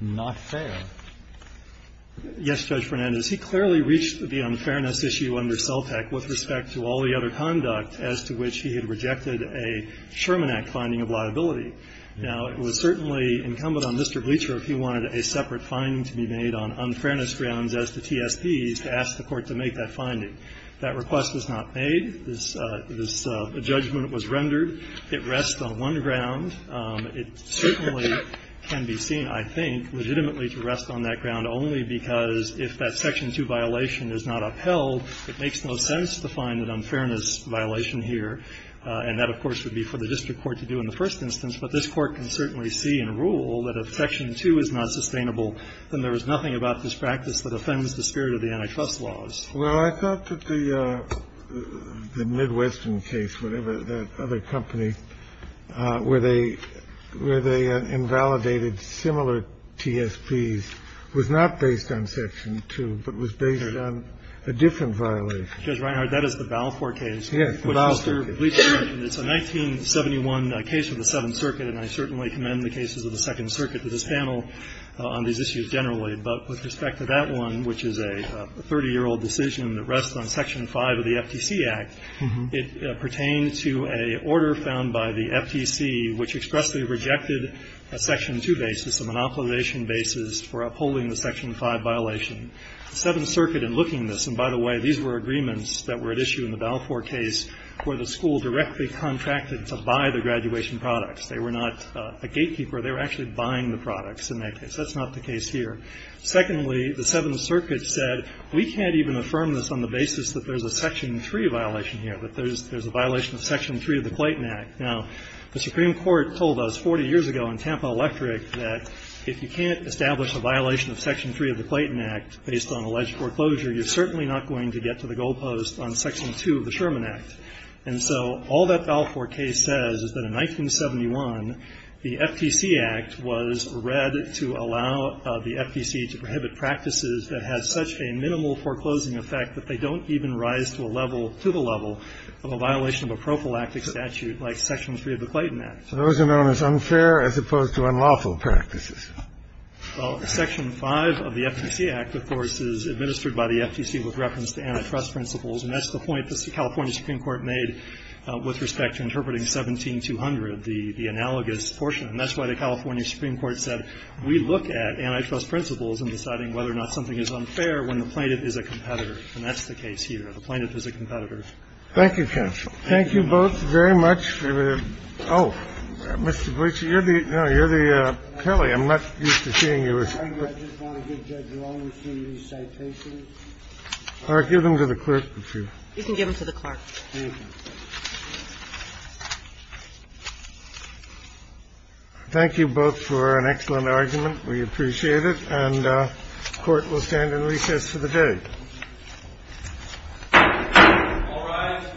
not fair. Yes, Judge Fernandez. He clearly reached the unfairness issue under CELTEC with respect to all the other conduct as to which he had rejected a Sherman Act finding of liability. Now, it was certainly incumbent on Mr. Bleacher if he wanted a separate finding to be made on unfairness grounds as to TSP to ask the Court to make that finding. That request was not made. This judgment was rendered. It rests on one ground. It certainly can be seen, I think, legitimately to rest on that ground only because if that Section 2 violation is not upheld, it makes no sense to find an unfairness violation here. And that, of course, would be for the district court to do in the first instance. But this Court can certainly see and rule that if Section 2 is not sustainable, then there is nothing about this practice that offends the spirit of the antitrust laws. Well, I thought that the Midwestern case, whatever that other company, where they invalidated similar TSPs, was not based on Section 2, but was based on a different violation. Judge Reinhard, that is the Balfour case. Yes, the Balfour case. Which, Mr. Bleacher mentioned, it's a 1971 case of the Seventh Circuit, and I certainly commend the cases of the Second Circuit to this panel on these issues generally. But with respect to that one, which is a 30-year-old decision that rests on Section 5 of the FTC Act, it pertained to an order found by the FTC which expressly rejected a Section 2 basis, a monopolization basis for upholding the Section 5 violation. The Seventh Circuit, in looking at this, and by the way, these were agreements that were at issue in the Balfour case where the school directly contracted to buy the graduation products. They were not a gatekeeper. They were actually buying the products in that case. That's not the case here. Secondly, the Seventh Circuit said we can't even affirm this on the basis that there's a Section 3 violation here, that there's a violation of Section 3 of the Clayton Act. Now, the Supreme Court told us 40 years ago in Tampa Electric that if you can't establish a violation of Section 3 of the Clayton Act based on alleged foreclosure, you're certainly not going to get to the goalpost on Section 2 of the Sherman Act. And so all that Balfour case says is that in 1971, the FTC Act was read to allow the FTC to prohibit practices that had such a minimal foreclosing effect that they don't even rise to a level, to the level of a violation of a prophylactic statute like Section 3 of the Clayton Act. So those are known as unfair as opposed to unlawful practices. Well, Section 5 of the FTC Act, of course, is administered by the FTC with reference to antitrust principles, and that's the point the California Supreme Court made with respect to interpreting 17200, the analogous portion. And that's why the California Supreme Court said we look at antitrust principles and deciding whether or not something is unfair when the plaintiff is a competitor. And that's the case here. The plaintiff is a competitor. Thank you, counsel. Thank you both very much. Oh, Mr. Gleeson, you're the – no, you're the – Kelly, I'm not used to seeing you as clerk. I just want to give Judge Longstreet these citations. All right. Give them to the clerk. You can give them to the clerk. Thank you. Thank you both for an excellent argument. We appreciate it. And the Court will stand in recess for the day.